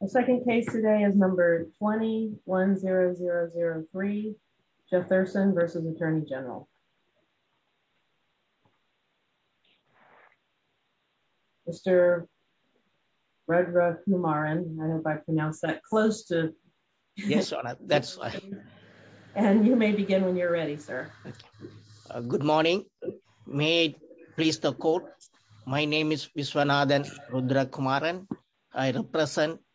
The second case today is number 210003 Jathursan v. U.S. Attorney General. Mr. Rudra Kumaran, I don't know if I pronounced that close to... Yes, that's right. And you may begin when you're ready, sir. Good morning. May I please the court? My name is Vishwanathan Rudra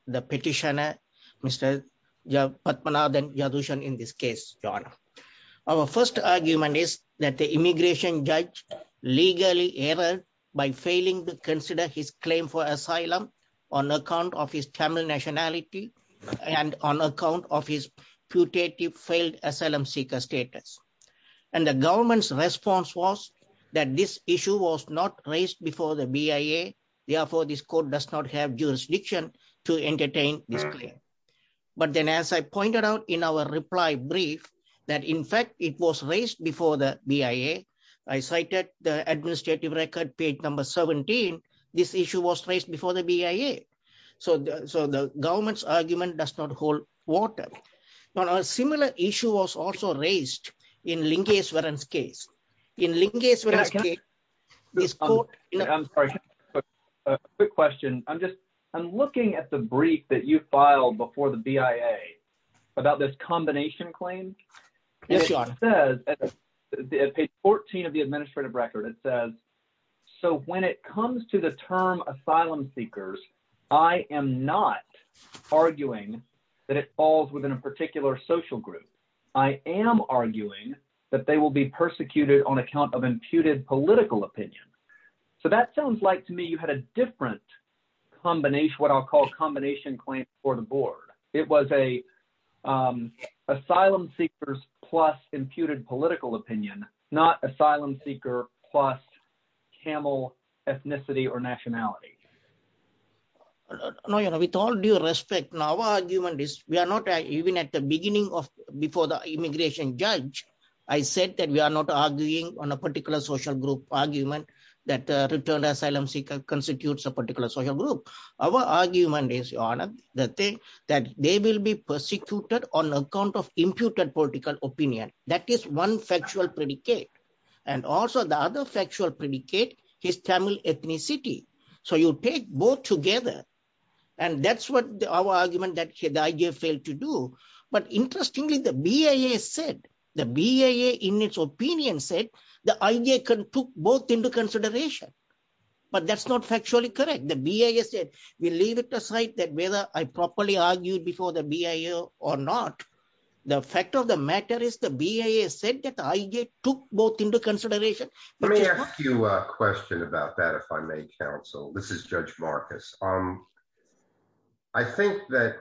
the petitioner, Mr. Padmanathan Jathursan in this case, your honor. Our first argument is that the immigration judge legally errored by failing to consider his claim for asylum on account of his Tamil nationality and on account of his putative failed asylum seeker status. And the government's response was that this issue was not raised before the BIA. Therefore, this court does not have jurisdiction to entertain this claim. But then as I pointed out in our reply brief, that in fact, it was raised before the BIA. I cited the administrative record page number 17. This issue was raised before the BIA. So the government's argument does not hold water. Now, a similar issue was also raised in Lingeswaran's case. In Lingeswaran's case, this court... I'm sorry, a quick question. I'm just, I'm looking at the brief that you filed before the BIA about this combination claim. Yes, your honor. It says, at page 14 of the administrative record, it says, so when it comes to the term asylum seekers, I am not arguing that it falls within a particular social group. I am arguing that they will be persecuted on account of imputed political opinion. So that sounds like to me, you had a different combination, what I'll call combination claim for the board. It was asylum seekers plus imputed political opinion, not asylum seeker plus camel ethnicity or nationality. No, with all due respect, now our argument is, we are not even at the beginning of, before the immigration judge, I said that we are not arguing on a particular social group argument that returned asylum seeker constitutes a particular social group. Our argument is, your honor, that they will be persecuted on account of imputed political opinion. That is one factual predicate. And also the other factual predicate is Tamil ethnicity. So you take both together, and that's what our argument that the IJ failed to do. But interestingly, the BIA said, the BIA in its opinion said, the IJ took both into consideration. But that's not factually correct. The BIA said, we leave it aside that whether I properly argued before the BIA or not, the fact of the matter is the BIA said that the IJ took both into consideration. Let me ask you a question about that, if I may counsel, this is Judge Marcus. I think that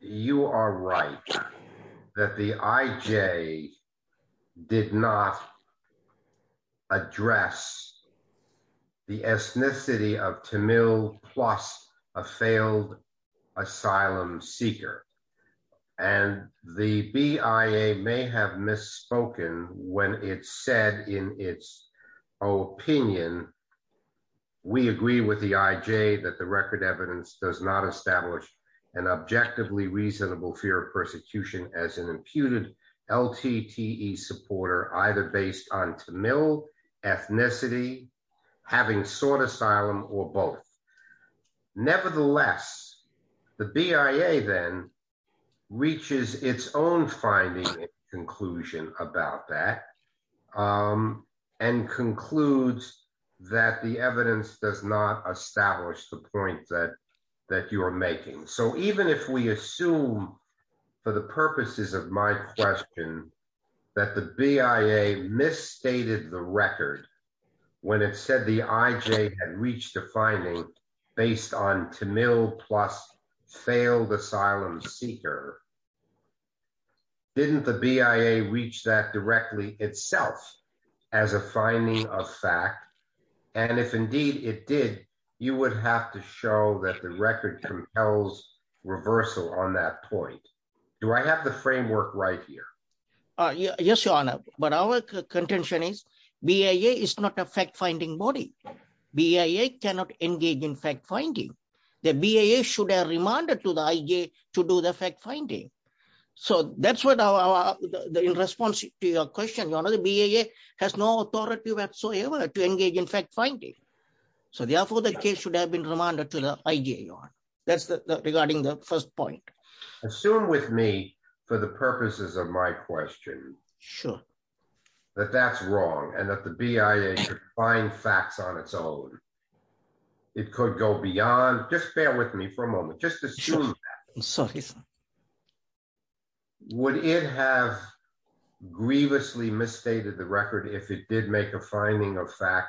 you are right, that the IJ did not address the ethnicity of Tamil plus a failed asylum seeker. And the BIA may have misspoken when it said in its opinion, we agree with the IJ that the record evidence does not establish an objectively reasonable fear of persecution as an imputed LTTE supporter, either based on Tamil ethnicity, having sought asylum or both. Nevertheless, the BIA then reaches its own finding conclusion about that and concludes that the evidence does not establish the point that you are making. So even if we assume, for the purposes of my question, that the BIA misstated the record, when it said the IJ had reached a finding based on Tamil plus failed asylum seeker, didn't the BIA reach that directly itself as a finding of fact? And if indeed it did, you would have to show that the record compels reversal on that point. Do I have the framework right here? Yes, Your Honor. But our contention is BIA is not a fact-finding body. BIA cannot engage in fact-finding. The BIA should have remanded to the IJ to do the fact-finding. So that's what our, in response to your question, Your Honor, the BIA has no authority whatsoever to engage in fact-finding. So therefore, the case should have been remanded to the IJ, Your Honor. That's regarding the first point. Assume with me, for the purposes of my question, that that's wrong and that the BIA could find facts on its own. It could go beyond, just bear with me for a moment, just assume that. Would it have grievously misstated the record if it did make a finding of fact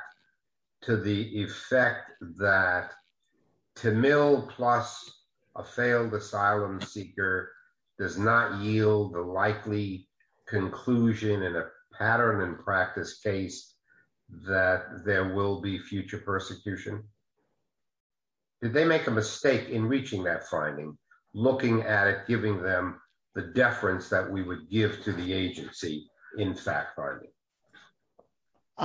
to the effect that Tamil plus a failed asylum seeker does not yield the likely conclusion in a pattern and practice case that there will be future persecution? Did they make a mistake in reaching that finding, looking at it, giving them the deference that we would give to the agency in fact-finding?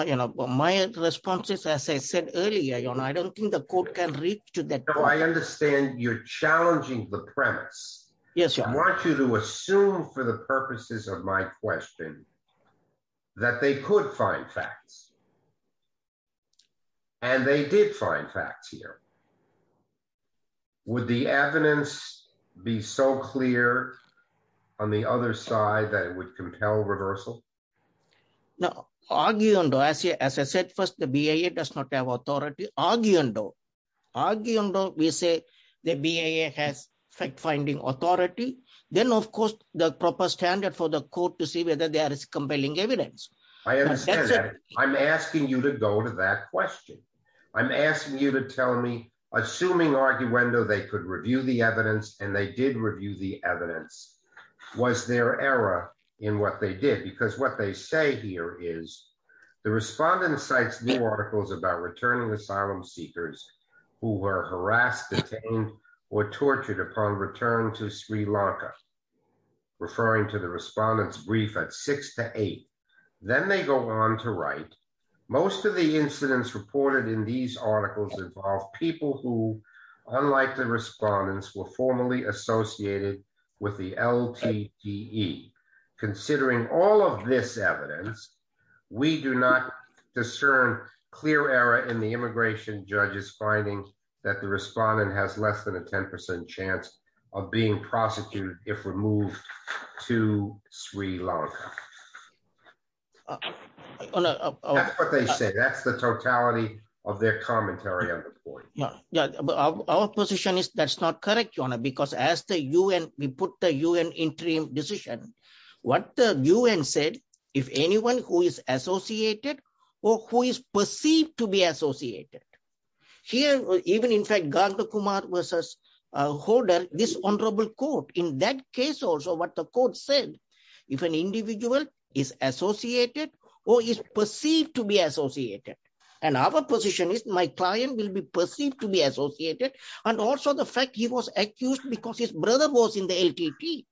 You know, my response is, as I said earlier, Your Honor, I don't think the court can reach to that. No, I understand you're challenging the premise. Yes, Your Honor. I want you to assume, for the purposes of my question, that they could find facts. And they did find facts here. Would the evidence be so clear on the other side that it would compel reversal? No. Arguendo. As I said first, the BIA does not have authority. Arguendo. Arguendo, we say the BIA has fact-finding authority. Then, of course, the proper standard for the court to see whether there is compelling evidence. I understand that. I'm asking you to go to that question. I'm asking you to tell me, assuming arguendo, they could review the evidence and they did review the evidence, was there error in what they did? Because what they say here is, the respondent cites new articles about returning asylum seekers who were harassed, detained, or tortured upon return to Sri Lanka, referring to the respondent's brief at 6 to 8. Then they go on to write, most of the incidents reported in these articles involve people who, unlike the respondents, were formerly associated with the LTTE. Considering all of this evidence, we do not discern clear error in the immigration judge's finding that the respondent has less than a 10% chance of being prosecuted if removed to Sri Lanka. That's what they say. That's the our position is that's not correct, Your Honor, because as the UN, we put the UN interim decision, what the UN said, if anyone who is associated or who is perceived to be associated, here, even in fact, Ganga Kumar versus Hodor, this honorable court, in that case also what the court said, if an individual is associated or is perceived to be associated, and our position is, my client will be perceived to be associated, and also the fact he was accused because his brother was in the LTTE.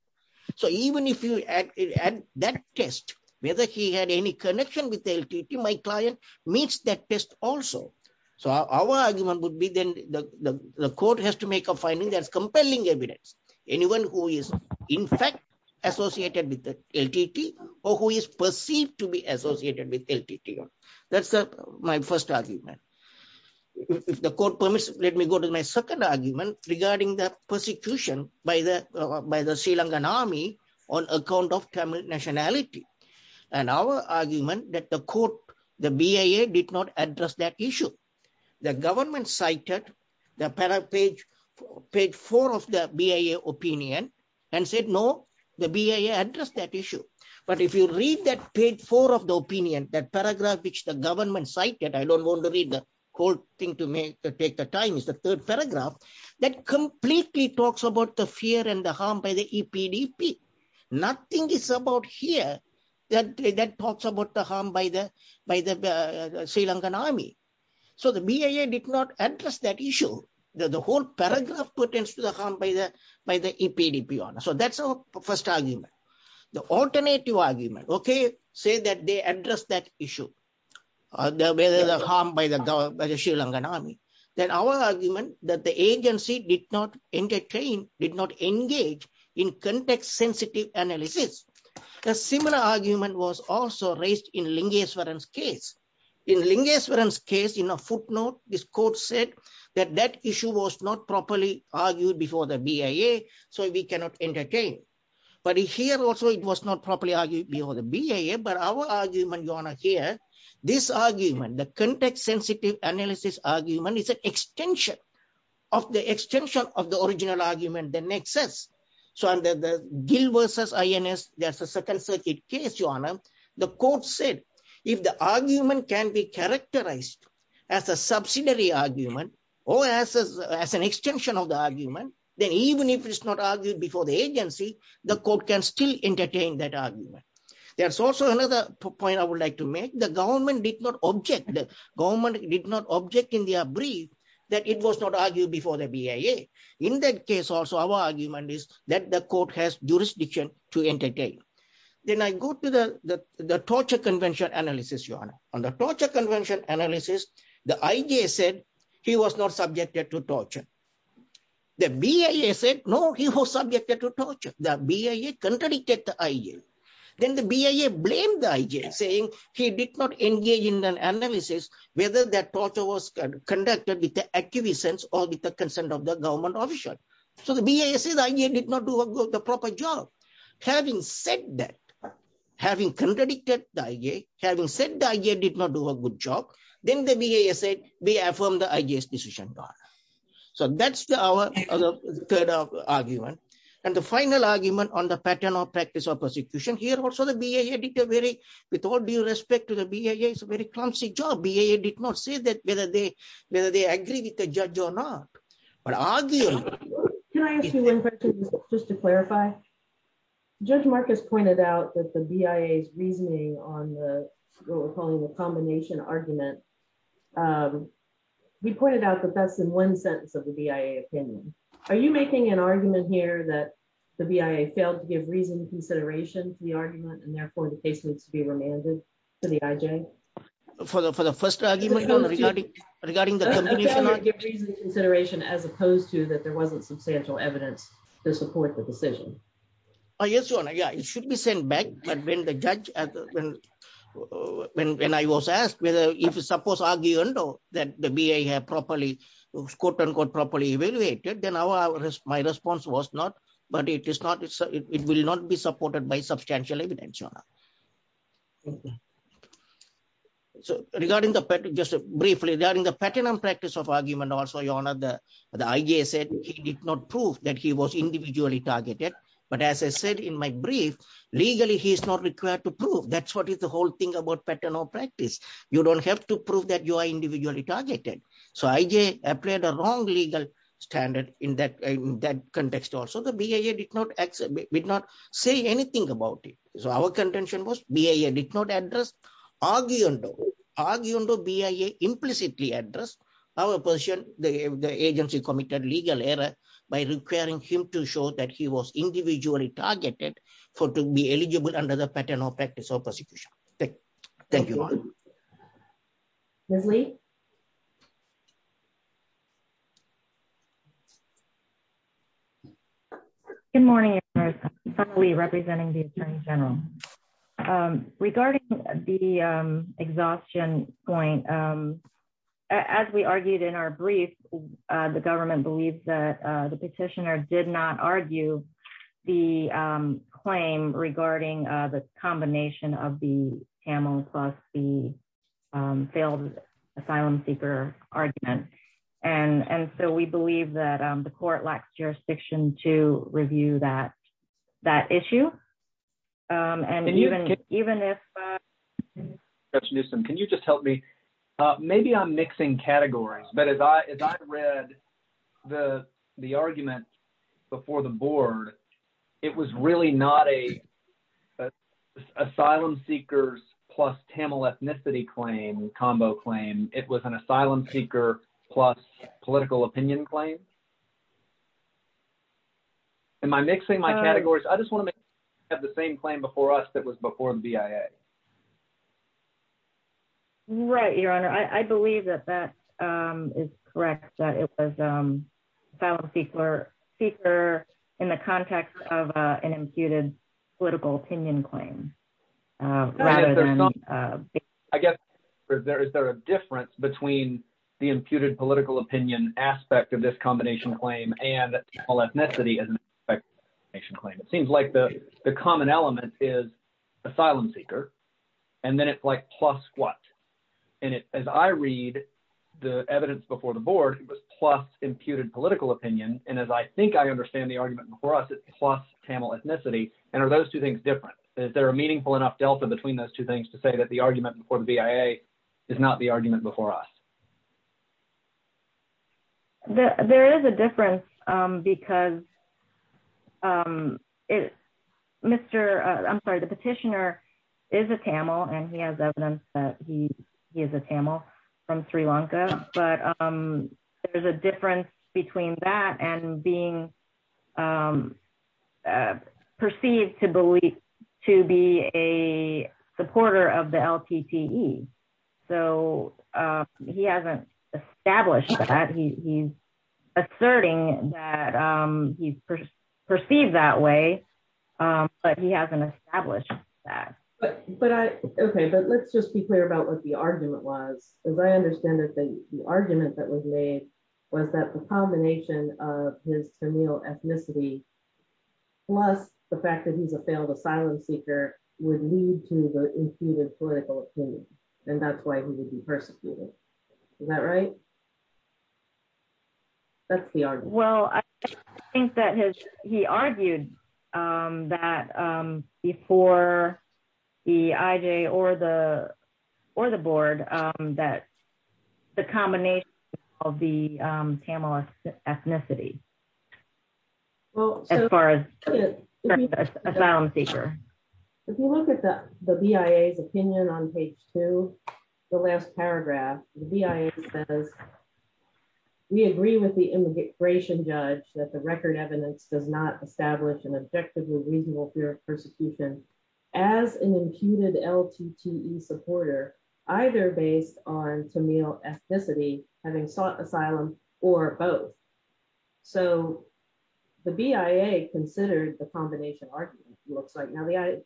So even if you add that test, whether he had any connection with the LTTE, my client meets that test also. So our argument would be then the court has to make a finding that's compelling evidence. Anyone who is in fact associated with the LTTE or who is perceived to associated with LTTE. That's my first argument. If the court permits, let me go to my second argument regarding the persecution by the Sri Lankan army on account of Tamil nationality, and our argument that the court, the BIA did not address that issue. The government cited the page four of the BIA opinion and said, no, the BIA addressed that issue. But if you read that page four of the opinion, that paragraph which the government cited, I don't want to read the whole thing to take the time, it's the third paragraph, that completely talks about the fear and the harm by the EPDP. Nothing is about here that talks about the harm by the Sri Lankan army. So the BIA did not address that issue. The whole paragraph pertains to the by the EPDP. So that's our first argument. The alternative argument, okay, say that they address that issue, the harm by the Sri Lankan army. Then our argument that the agency did not entertain, did not engage in context sensitive analysis. A similar argument was also raised in Lingeswaran's case. In Lingeswaran's case, in a footnote, this court said that that issue was not properly argued before the BIA, so we cannot entertain. But here also, it was not properly argued before the BIA. But our argument, Your Honor, here, this argument, the context sensitive analysis argument is an extension of the extension of the original argument, the nexus. So under the Gill versus INS, there's a second circuit case, Your Honor. The court said, if the argument can be characterized as a subsidiary argument, or as an extension of the argument, then even if it's not argued before the agency, the court can still entertain that argument. There's also another point I would like to make. The government did not object. The government did not object in their brief that it was not argued before the BIA. In that case also, our argument is that the court has jurisdiction to entertain. Then I go to the torture convention analysis, Your Honor. On the torture convention analysis, the IJ said he was not subjected to torture. The BIA said no, he was subjected to torture. The BIA contradicted the IJ. Then the BIA blamed the IJ, saying he did not engage in an analysis whether that torture was conducted with the acquiescence or with the consent of the government officer. So the BIA says the IJ did not do a good, the proper job. Having said that, then the BIA said, we affirm the IJ's decision, Your Honor. So that's our third argument. And the final argument on the pattern of practice of persecution, here also the BIA did a very, with all due respect to the BIA, it's a very clumsy job. BIA did not say whether they agree with the judge or not. But arguably... Can I ask you one question just to clarify? Judge Marcus pointed out that the BIA's reasoning on the, what we're calling the combination argument, he pointed out that that's in one sentence of the BIA opinion. Are you making an argument here that the BIA failed to give reason and consideration to the argument, and therefore the case needs to be remanded to the IJ? For the first argument regarding the consideration, as opposed to that there wasn't substantial evidence to support the decision? Oh, yes, Your Honor. Yeah, it should be sent back. But when the judge, when I was asked whether if it's supposed argument or that the BIA have properly, quote unquote, properly evaluated, then my response was not, but it is not, it will not be supported by substantial evidence, Your Honor. So regarding the, just briefly, regarding the pattern and practice of argument also, Your Honor, the IJ said he did not prove that he was individually targeted. But as I said in my brief, legally, he's not required to prove. That's what is the whole thing about pattern or practice. You don't have to prove that you are individually targeted. So IJ applied a wrong legal standard in that context also. The BIA did not say anything about it. So our contention was BIA did not address, arguing though, arguing though BIA implicitly addressed our position, the agency committed legal error by requiring him to show that he was individually targeted for to be eligible under the pattern or practice of persecution. Thank you, Your Honor. Ms. Lee? Good morning, Your Honor. Ms. Lee representing the Attorney General. Regarding the exhaustion point, as we argued in our brief, the government believes that the petitioner did not argue the claim regarding the combination of the TAML plus the failed asylum seeker argument. And so we believe that the court lacks jurisdiction to review that issue. And even if Can you just help me? Maybe I'm mixing categories. But as I read the argument before the board, it was really not a asylum seekers plus TAML ethnicity claim, combo claim. It was an asylum seeker plus political opinion claim. Am I mixing my categories? I just want to have the same claim before us that was before the BIA. Right, Your Honor. I believe that that is correct, that it was asylum seeker in the context of an imputed political opinion claim. I guess, is there a difference between the imputed political opinion aspect of this combination claim and TAML ethnicity as an aspect of this combination claim? It seems like the and then it's like plus what? And as I read the evidence before the board, it was plus imputed political opinion. And as I think I understand the argument before us, it's plus TAML ethnicity. And are those two things different? Is there a meaningful enough delta between those two things to say that the argument before the BIA is not the argument before us? There is a difference because I'm sorry, the petitioner is a TAML and he has evidence that he is a TAML from Sri Lanka. But there's a difference between that and being perceived to be a supporter of the LPTE. So he hasn't established that he's asserting that he's perceived that way. But he hasn't established that. Okay, but let's just be clear about what the argument was. As I understand it, that the argument that was made was that the combination of his TAML ethnicity, plus the fact that he's a failed asylum seeker would lead to the imputed political opinion. And that's why he would be persecuted. Is that right? Well, I think that he argued that before the IJ or the board that the combination of the TAML ethnicity as far as asylum seeker. If you look at the BIA's opinion on page two, the last paragraph, the BIA says, we agree with the immigration judge that the record evidence does not establish an objective or reasonable fear of persecution as an imputed LPTE supporter, either based on TAML ethnicity, having sought asylum, or both. So the BIA considered the combination argument looks like now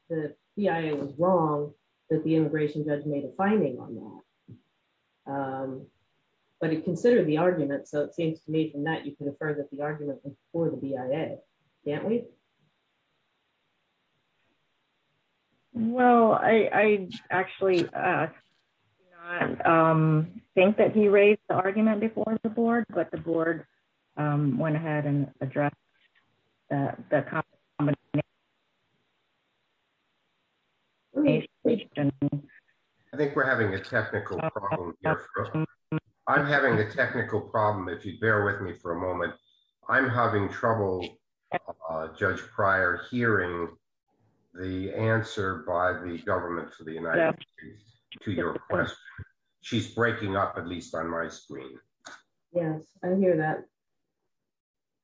the BIA was wrong, that the immigration judge made a finding on that. But it considered the argument. So it seems to me from that you can infer that the do not think that he raised the argument before the board, but the board went ahead and addressed the combination. I think we're having a technical problem. I'm having a technical problem. If you bear with me for a moment. I'm having trouble, Judge Pryor, hearing the answer by the government for the United States to your question. She's breaking up, at least on my screen. Yes, I hear that.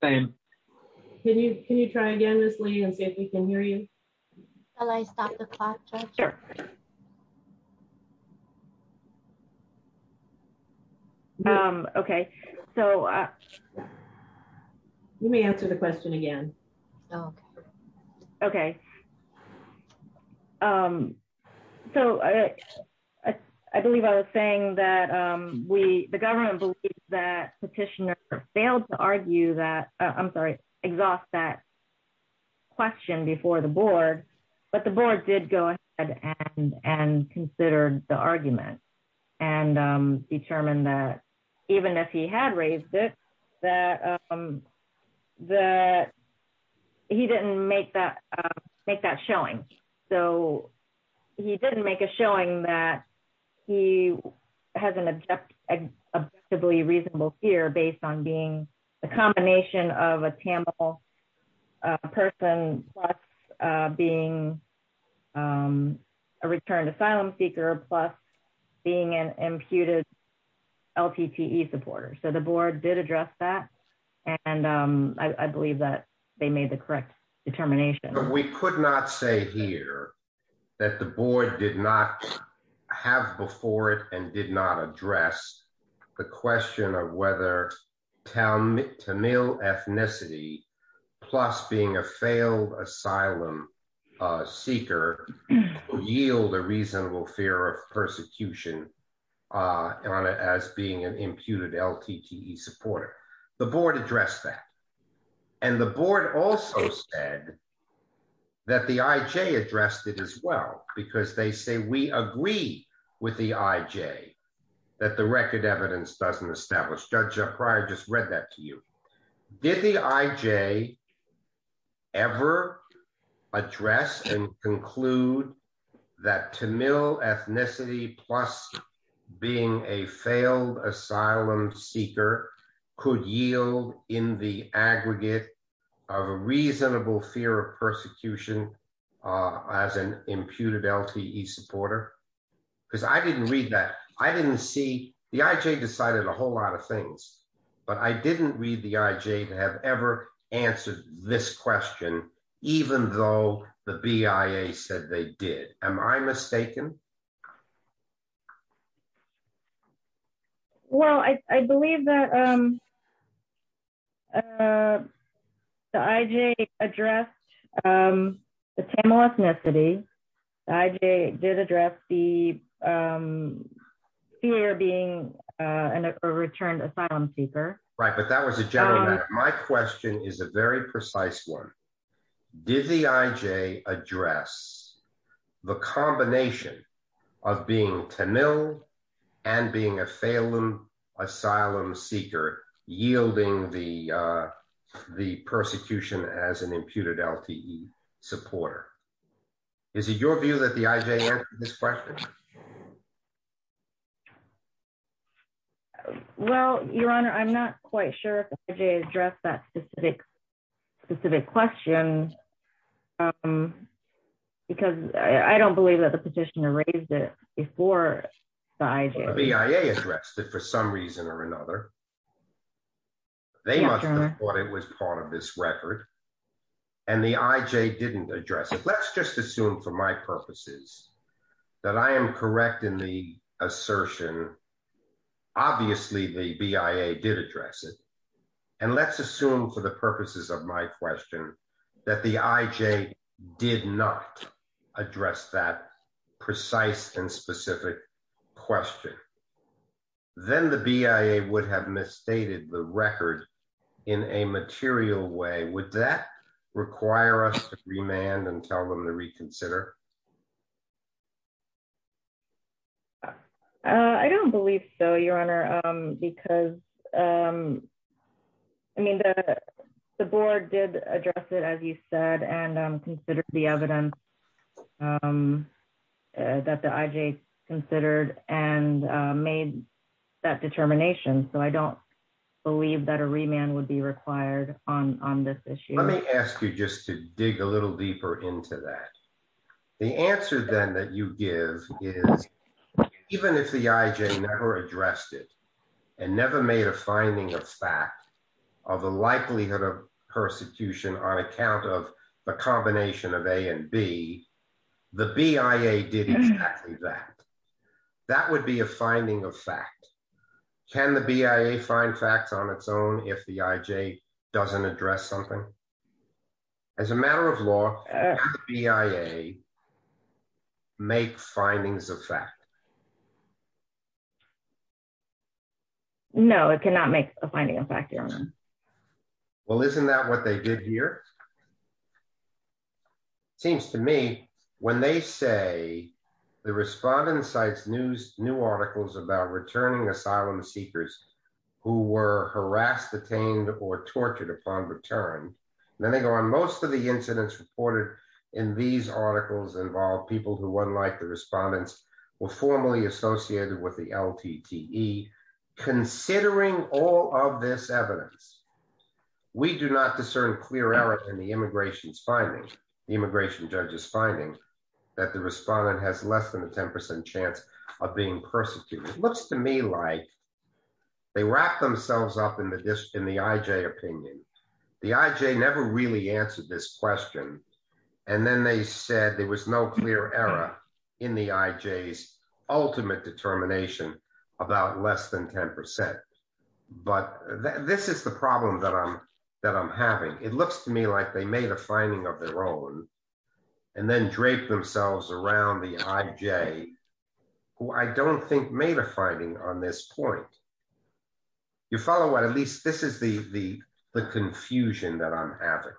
Same. Can you try again, Ms. Lee, and see if we can hear you? Shall I stop the clock, Judge? Sure. Okay. So let me answer the question again. Okay. So I believe I was saying that we, the government believes that petitioner failed to argue that, I'm sorry, exhaust that question before the board. But the board did go ahead and considered the argument and determined that even if he had raised it, that he didn't make that argument. Make that showing. So he didn't make a showing that he has an objectively reasonable fear based on being a combination of a Tamil person plus being a returned asylum seeker plus being an imputed LTTE supporter. So the board did address that. And I believe that they made the correct determination. We could not say here that the board did not have before it and did not address the question of whether Tamil ethnicity plus being a failed asylum seeker yield a reasonable fear of persecution on it as being an imputed LTTE supporter. The board addressed that. And the board also said that the IJ addressed it as well, because they say we agree with the IJ that the record evidence doesn't establish. Judge Pryor, I just read that to you. Did the IJ ever address and conclude that Tamil ethnicity plus being a failed asylum seeker could yield in the aggregate of a reasonable fear of persecution as an imputed LTTE supporter? Because I didn't read that. I didn't see the IJ decided a whole lot of things, but I didn't read the IJ to have ever answered this question, even though the BIA said they did. Am I mistaken? Well, I believe that the IJ addressed the Tamil ethnicity. The IJ did address the fear of being a returned asylum seeker. Right. But that was a general matter. My question is a very precise one. Did the IJ address the combination of being Tamil and being a failed asylum seeker, yielding the persecution as an imputed LTTE supporter? Is it your view that the IJ answered this question? Well, Your Honor, I'm not quite sure if the IJ addressed that specific question because I don't believe that the petitioner raised it before the IJ. The BIA addressed it for some reason or another. They must have thought it was part of this record and the IJ didn't address it. Let's assume for my purposes that I am correct in the assertion. Obviously, the BIA did address it. And let's assume for the purposes of my question that the IJ did not address that precise and specific question. Then the BIA would have misstated the record in a material way. Would that require us to remand and tell them to reconsider? I don't believe so, Your Honor, because I mean, the board did address it, as you said, and considered the evidence that the IJ considered and made that determination. So I don't believe that a remand would be required on this issue. Let me ask you just to dig a little deeper into that. The answer then that you give is, even if the IJ never addressed it and never made a finding of fact of the likelihood of persecution on account of the combination of A and B, the BIA did exactly that. That would be a finding of fact. Can the BIA find facts on its own if the IJ doesn't address something? As a matter of law, can the BIA make findings of fact? No, it cannot make a finding of fact, Your Honor. Well, isn't that what they did here? It seems to me, when they say the respondent cites new articles about returning asylum seekers who were harassed, detained, or tortured upon return, then they go on, most of the incidents reported in these articles involve people who, unlike the respondents, were formerly associated with the LTTE. Considering all of this evidence, we do not discern clear errors in the immigration findings, the immigration judge's findings, that the respondent has less than a 10% chance of being persecuted. It looks to me like they wrapped themselves up in the IJ opinion. The IJ never really answered this question, and then they said there was no clear error in the IJ's ultimate determination about less than 10%. But this is the problem that I'm having. It looks to me like they made a finding of their own and then draped themselves around the IJ, who I don't think made a finding on this point. You follow what? At least this is the confusion that I'm having.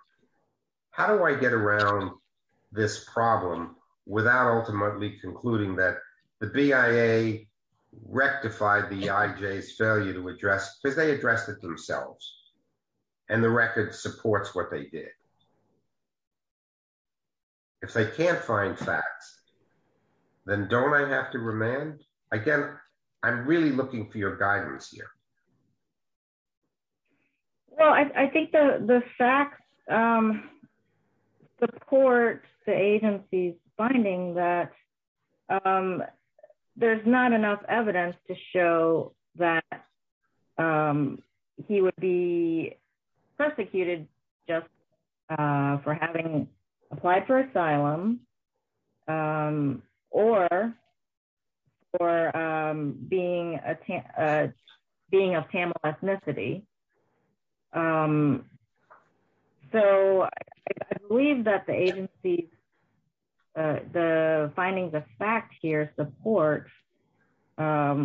How do I get around this problem without ultimately concluding that the BIA rectified the IJ's failure to address, because they addressed it themselves, and the record supports what they did. If they can't find facts, then don't I have to remand? Again, I'm really looking for your guidance here. Well, I think the facts support the agency's finding that there's not enough evidence to show that he would be prosecuted just for having applied for asylum or for being of Tamil ethnicity. So, I believe that the agency, the findings of fact here support what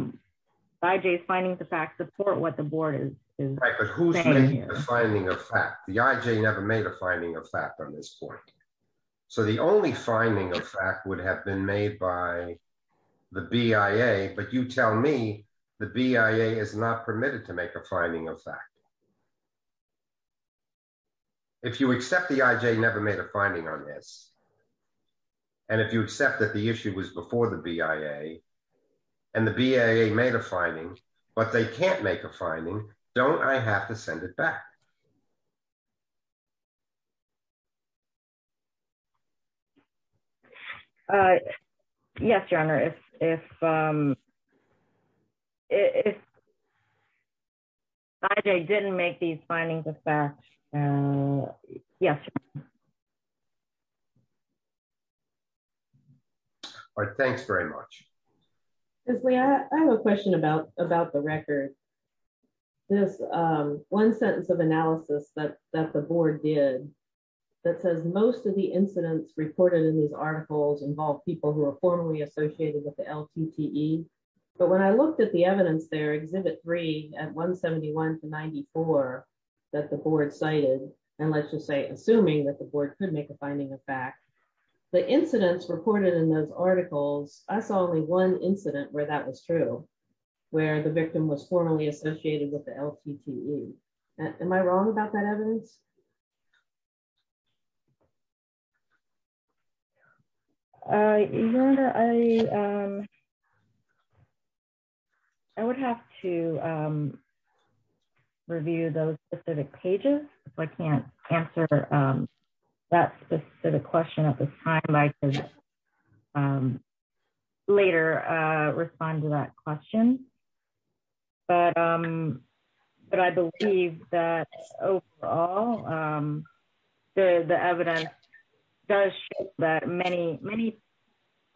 the board is saying here. Right, but who's making the finding of fact? The IJ never made a finding of fact on this point. So, the only finding of fact would have been made by the BIA, but you tell me the BIA is not permitted to make a finding of fact. If you accept the IJ never made a finding on this, and if you accept that the issue was before the BIA, and the BIA made a finding, but they can't make a finding, don't I have to send it back? Yes, your honor. If IJ didn't make these findings of fact, yes. All right, thanks very much. Leslie, I have a question about the record. This one sentence of analysis that the board did that says most of the incidents reported in these articles involve people who are formally associated with the LTTE, but when I looked at the evidence there, Exhibit 3 at 171 to 94 that the board cited, and let's just say assuming that the board could make a finding of fact, the incidents reported in those articles, I saw only one incident where that was true, where the victim was formally associated with the LTTE. Am I wrong about that evidence? Your honor, I would have to review those specific pages if I can't answer that specific question at this time. I can later respond to that question, but I believe that overall the evidence does show that many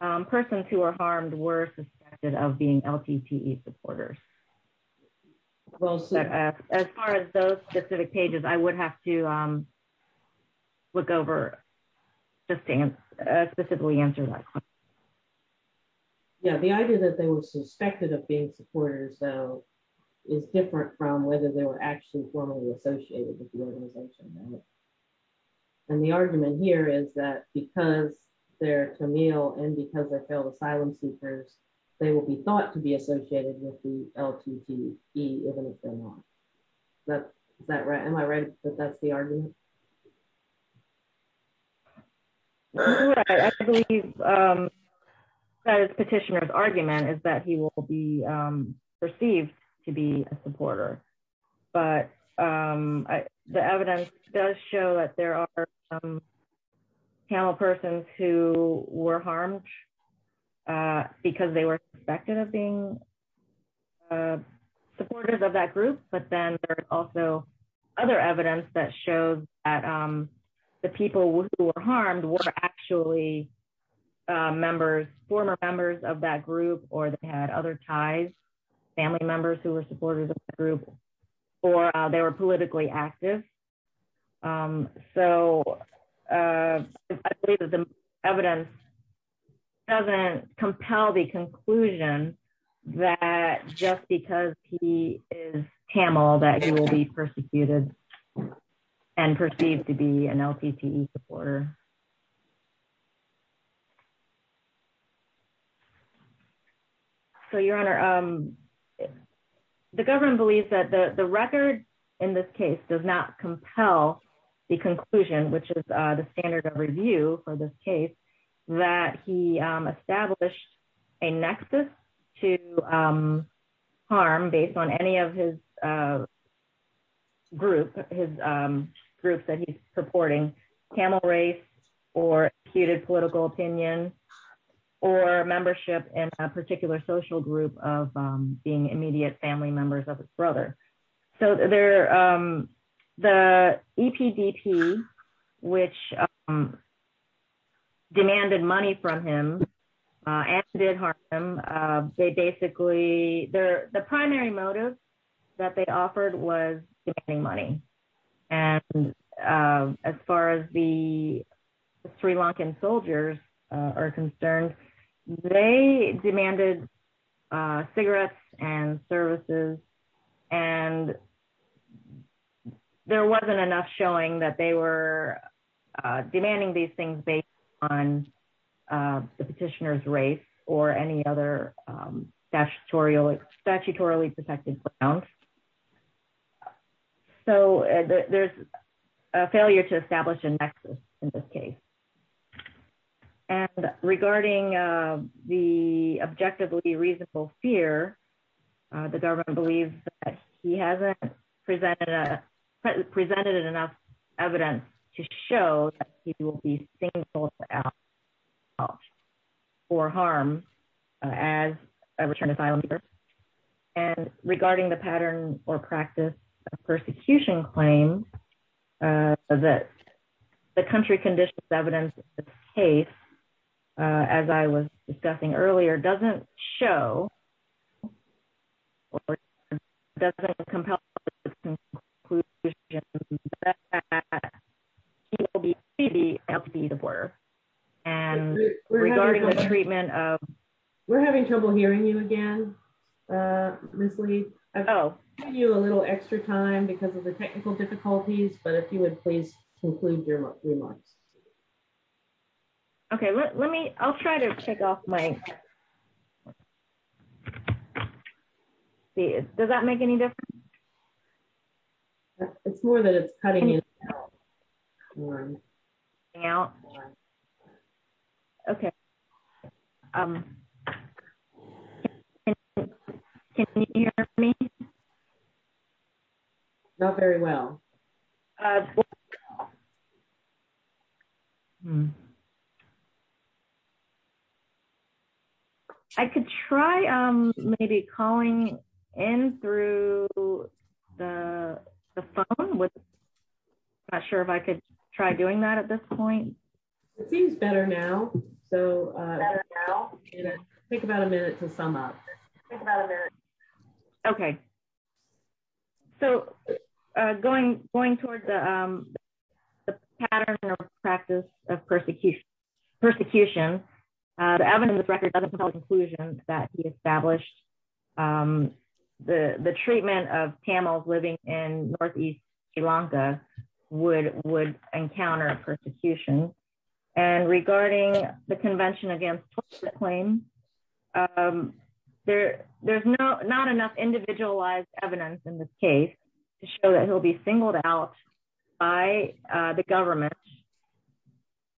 persons who are harmed were suspected of being LTTE supporters. As far as those specific pages, I would have to look over just to specifically answer that question. Yeah, the idea that they were suspected of being supporters though is different from whether they were actually formally associated with the organization. And the argument here is that because they're Camille and because they're asylum seekers, they will be thought to be associated with the LTTE. Am I right that that's the argument? I believe the petitioner's argument is that he will be perceived to be a supporter, but the evidence does show that there are some Camille persons who were harmed because they were suspected of being supporters of that group. But then there's also other evidence that shows that the people who were harmed were actually members, former members of that group, or they had other ties, family members who were supporters of the group, or they were politically active. So I believe that the evidence doesn't compel the conclusion that just because he is Camille that he will be persecuted and perceived to be an LTTE supporter. So, Your Honor, the government believes that the record in this case does not compel the conclusion, which is the standard of review for this case, that he established a nexus to harm based on any of his group, his groups that he's purporting, Camille race, or acuted political opinion, or membership in a particular social group of being immediate family members of his brother. So the EPDP, which demanded money from him and did harm him, they basically, the primary motive that they offered was demanding money. And as far as the Sri Lankan soldiers are concerned, they demanded cigarettes and services, and there wasn't enough showing that they were demanding these things based on the petitioner's race or any other statutorily protected grounds. So there's a failure to establish a nexus in this case. And regarding the objectively reasonable fear, the government believes that he hasn't presented enough evidence to show that he practiced a persecution claim, that the country conditions evidence in this case, as I was discussing earlier, doesn't show, doesn't compel the conclusion that he will be a LTTE supporter. And regarding the treatment of... We're having trouble hearing you again, Ms. Lee. I've given you a little extra time because of the technical difficulties, but if you would please conclude your remarks. Okay, let me, I'll try to check off my... Does that make any difference? It's more that it's cutting in. Okay. Can you hear me? Not very well. I could try maybe calling in through the phone with... Not sure if I could try doing that at this point. It seems better now. So I'll take about a minute to sum up. Okay. So going toward the pattern of practice of persecution, the evidence record doesn't hold conclusions that he established the treatment of Tamils living in northeast Sri Lanka would encounter persecution. And regarding the convention against torture claim, there's not enough individualized evidence in this case to show that he'll be singled out by the government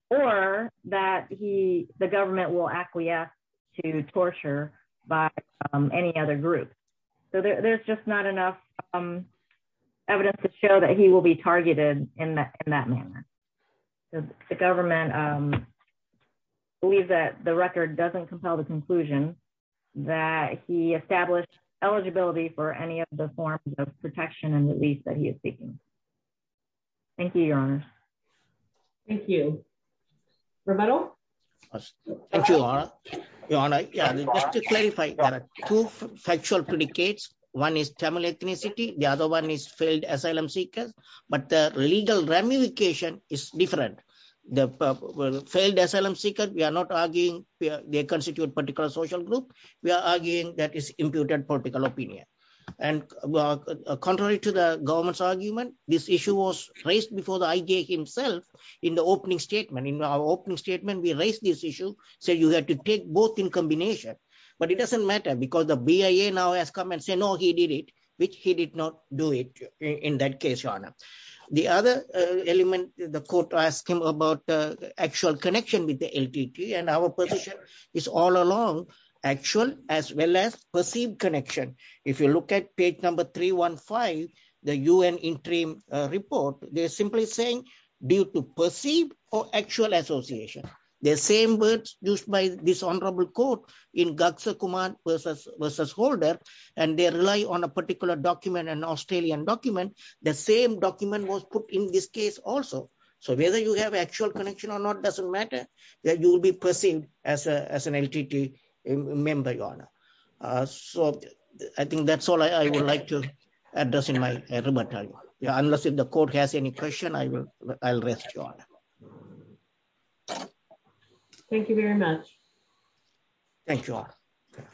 or that the government will acquiesce to torture by any other group. So there's just not enough evidence to show that he will be targeted in that manner. The government believes that the record doesn't compel the conclusion that he established eligibility for any of the forms of protection and release that he is seeking. Thank you, Your Honor. Thank you. Roberto? Thank you, Your Honor. Just to clarify, there are two factual predicates. One is Tamil ethnicity. The other one is failed asylum seekers, but the legal ramification is different. The failed asylum seeker, we are not arguing they constitute a particular social group. We are arguing that is imputed political opinion. And contrary to the government's argument, this issue was raised before the IJ himself in the opening statement. In our opening statement, we raised this issue. So you had to take both in combination, but it doesn't matter because the BIA now has come and say, no, he did it, which he did not do it in that case, Your Honor. The other element, the court asked him about actual connection with the LTT and our position is all along actual as well as perceived connection. If you look at page number 315, the UN interim report, they're simply saying due to perceived or actual association. The same words used by this honorable court in Gagsa Kumar versus Holder, and they rely on a particular document, an Australian document, the same document was put in this case also. So whether you have actual connection or not doesn't matter that you will be perceived as an LTT member, Your Honor. So I think that's all I would like to address in my rebuttal. Unless if the court has any question, I will, I'll rest, Your Honor. Thank you very much. Thank you, Your Honor.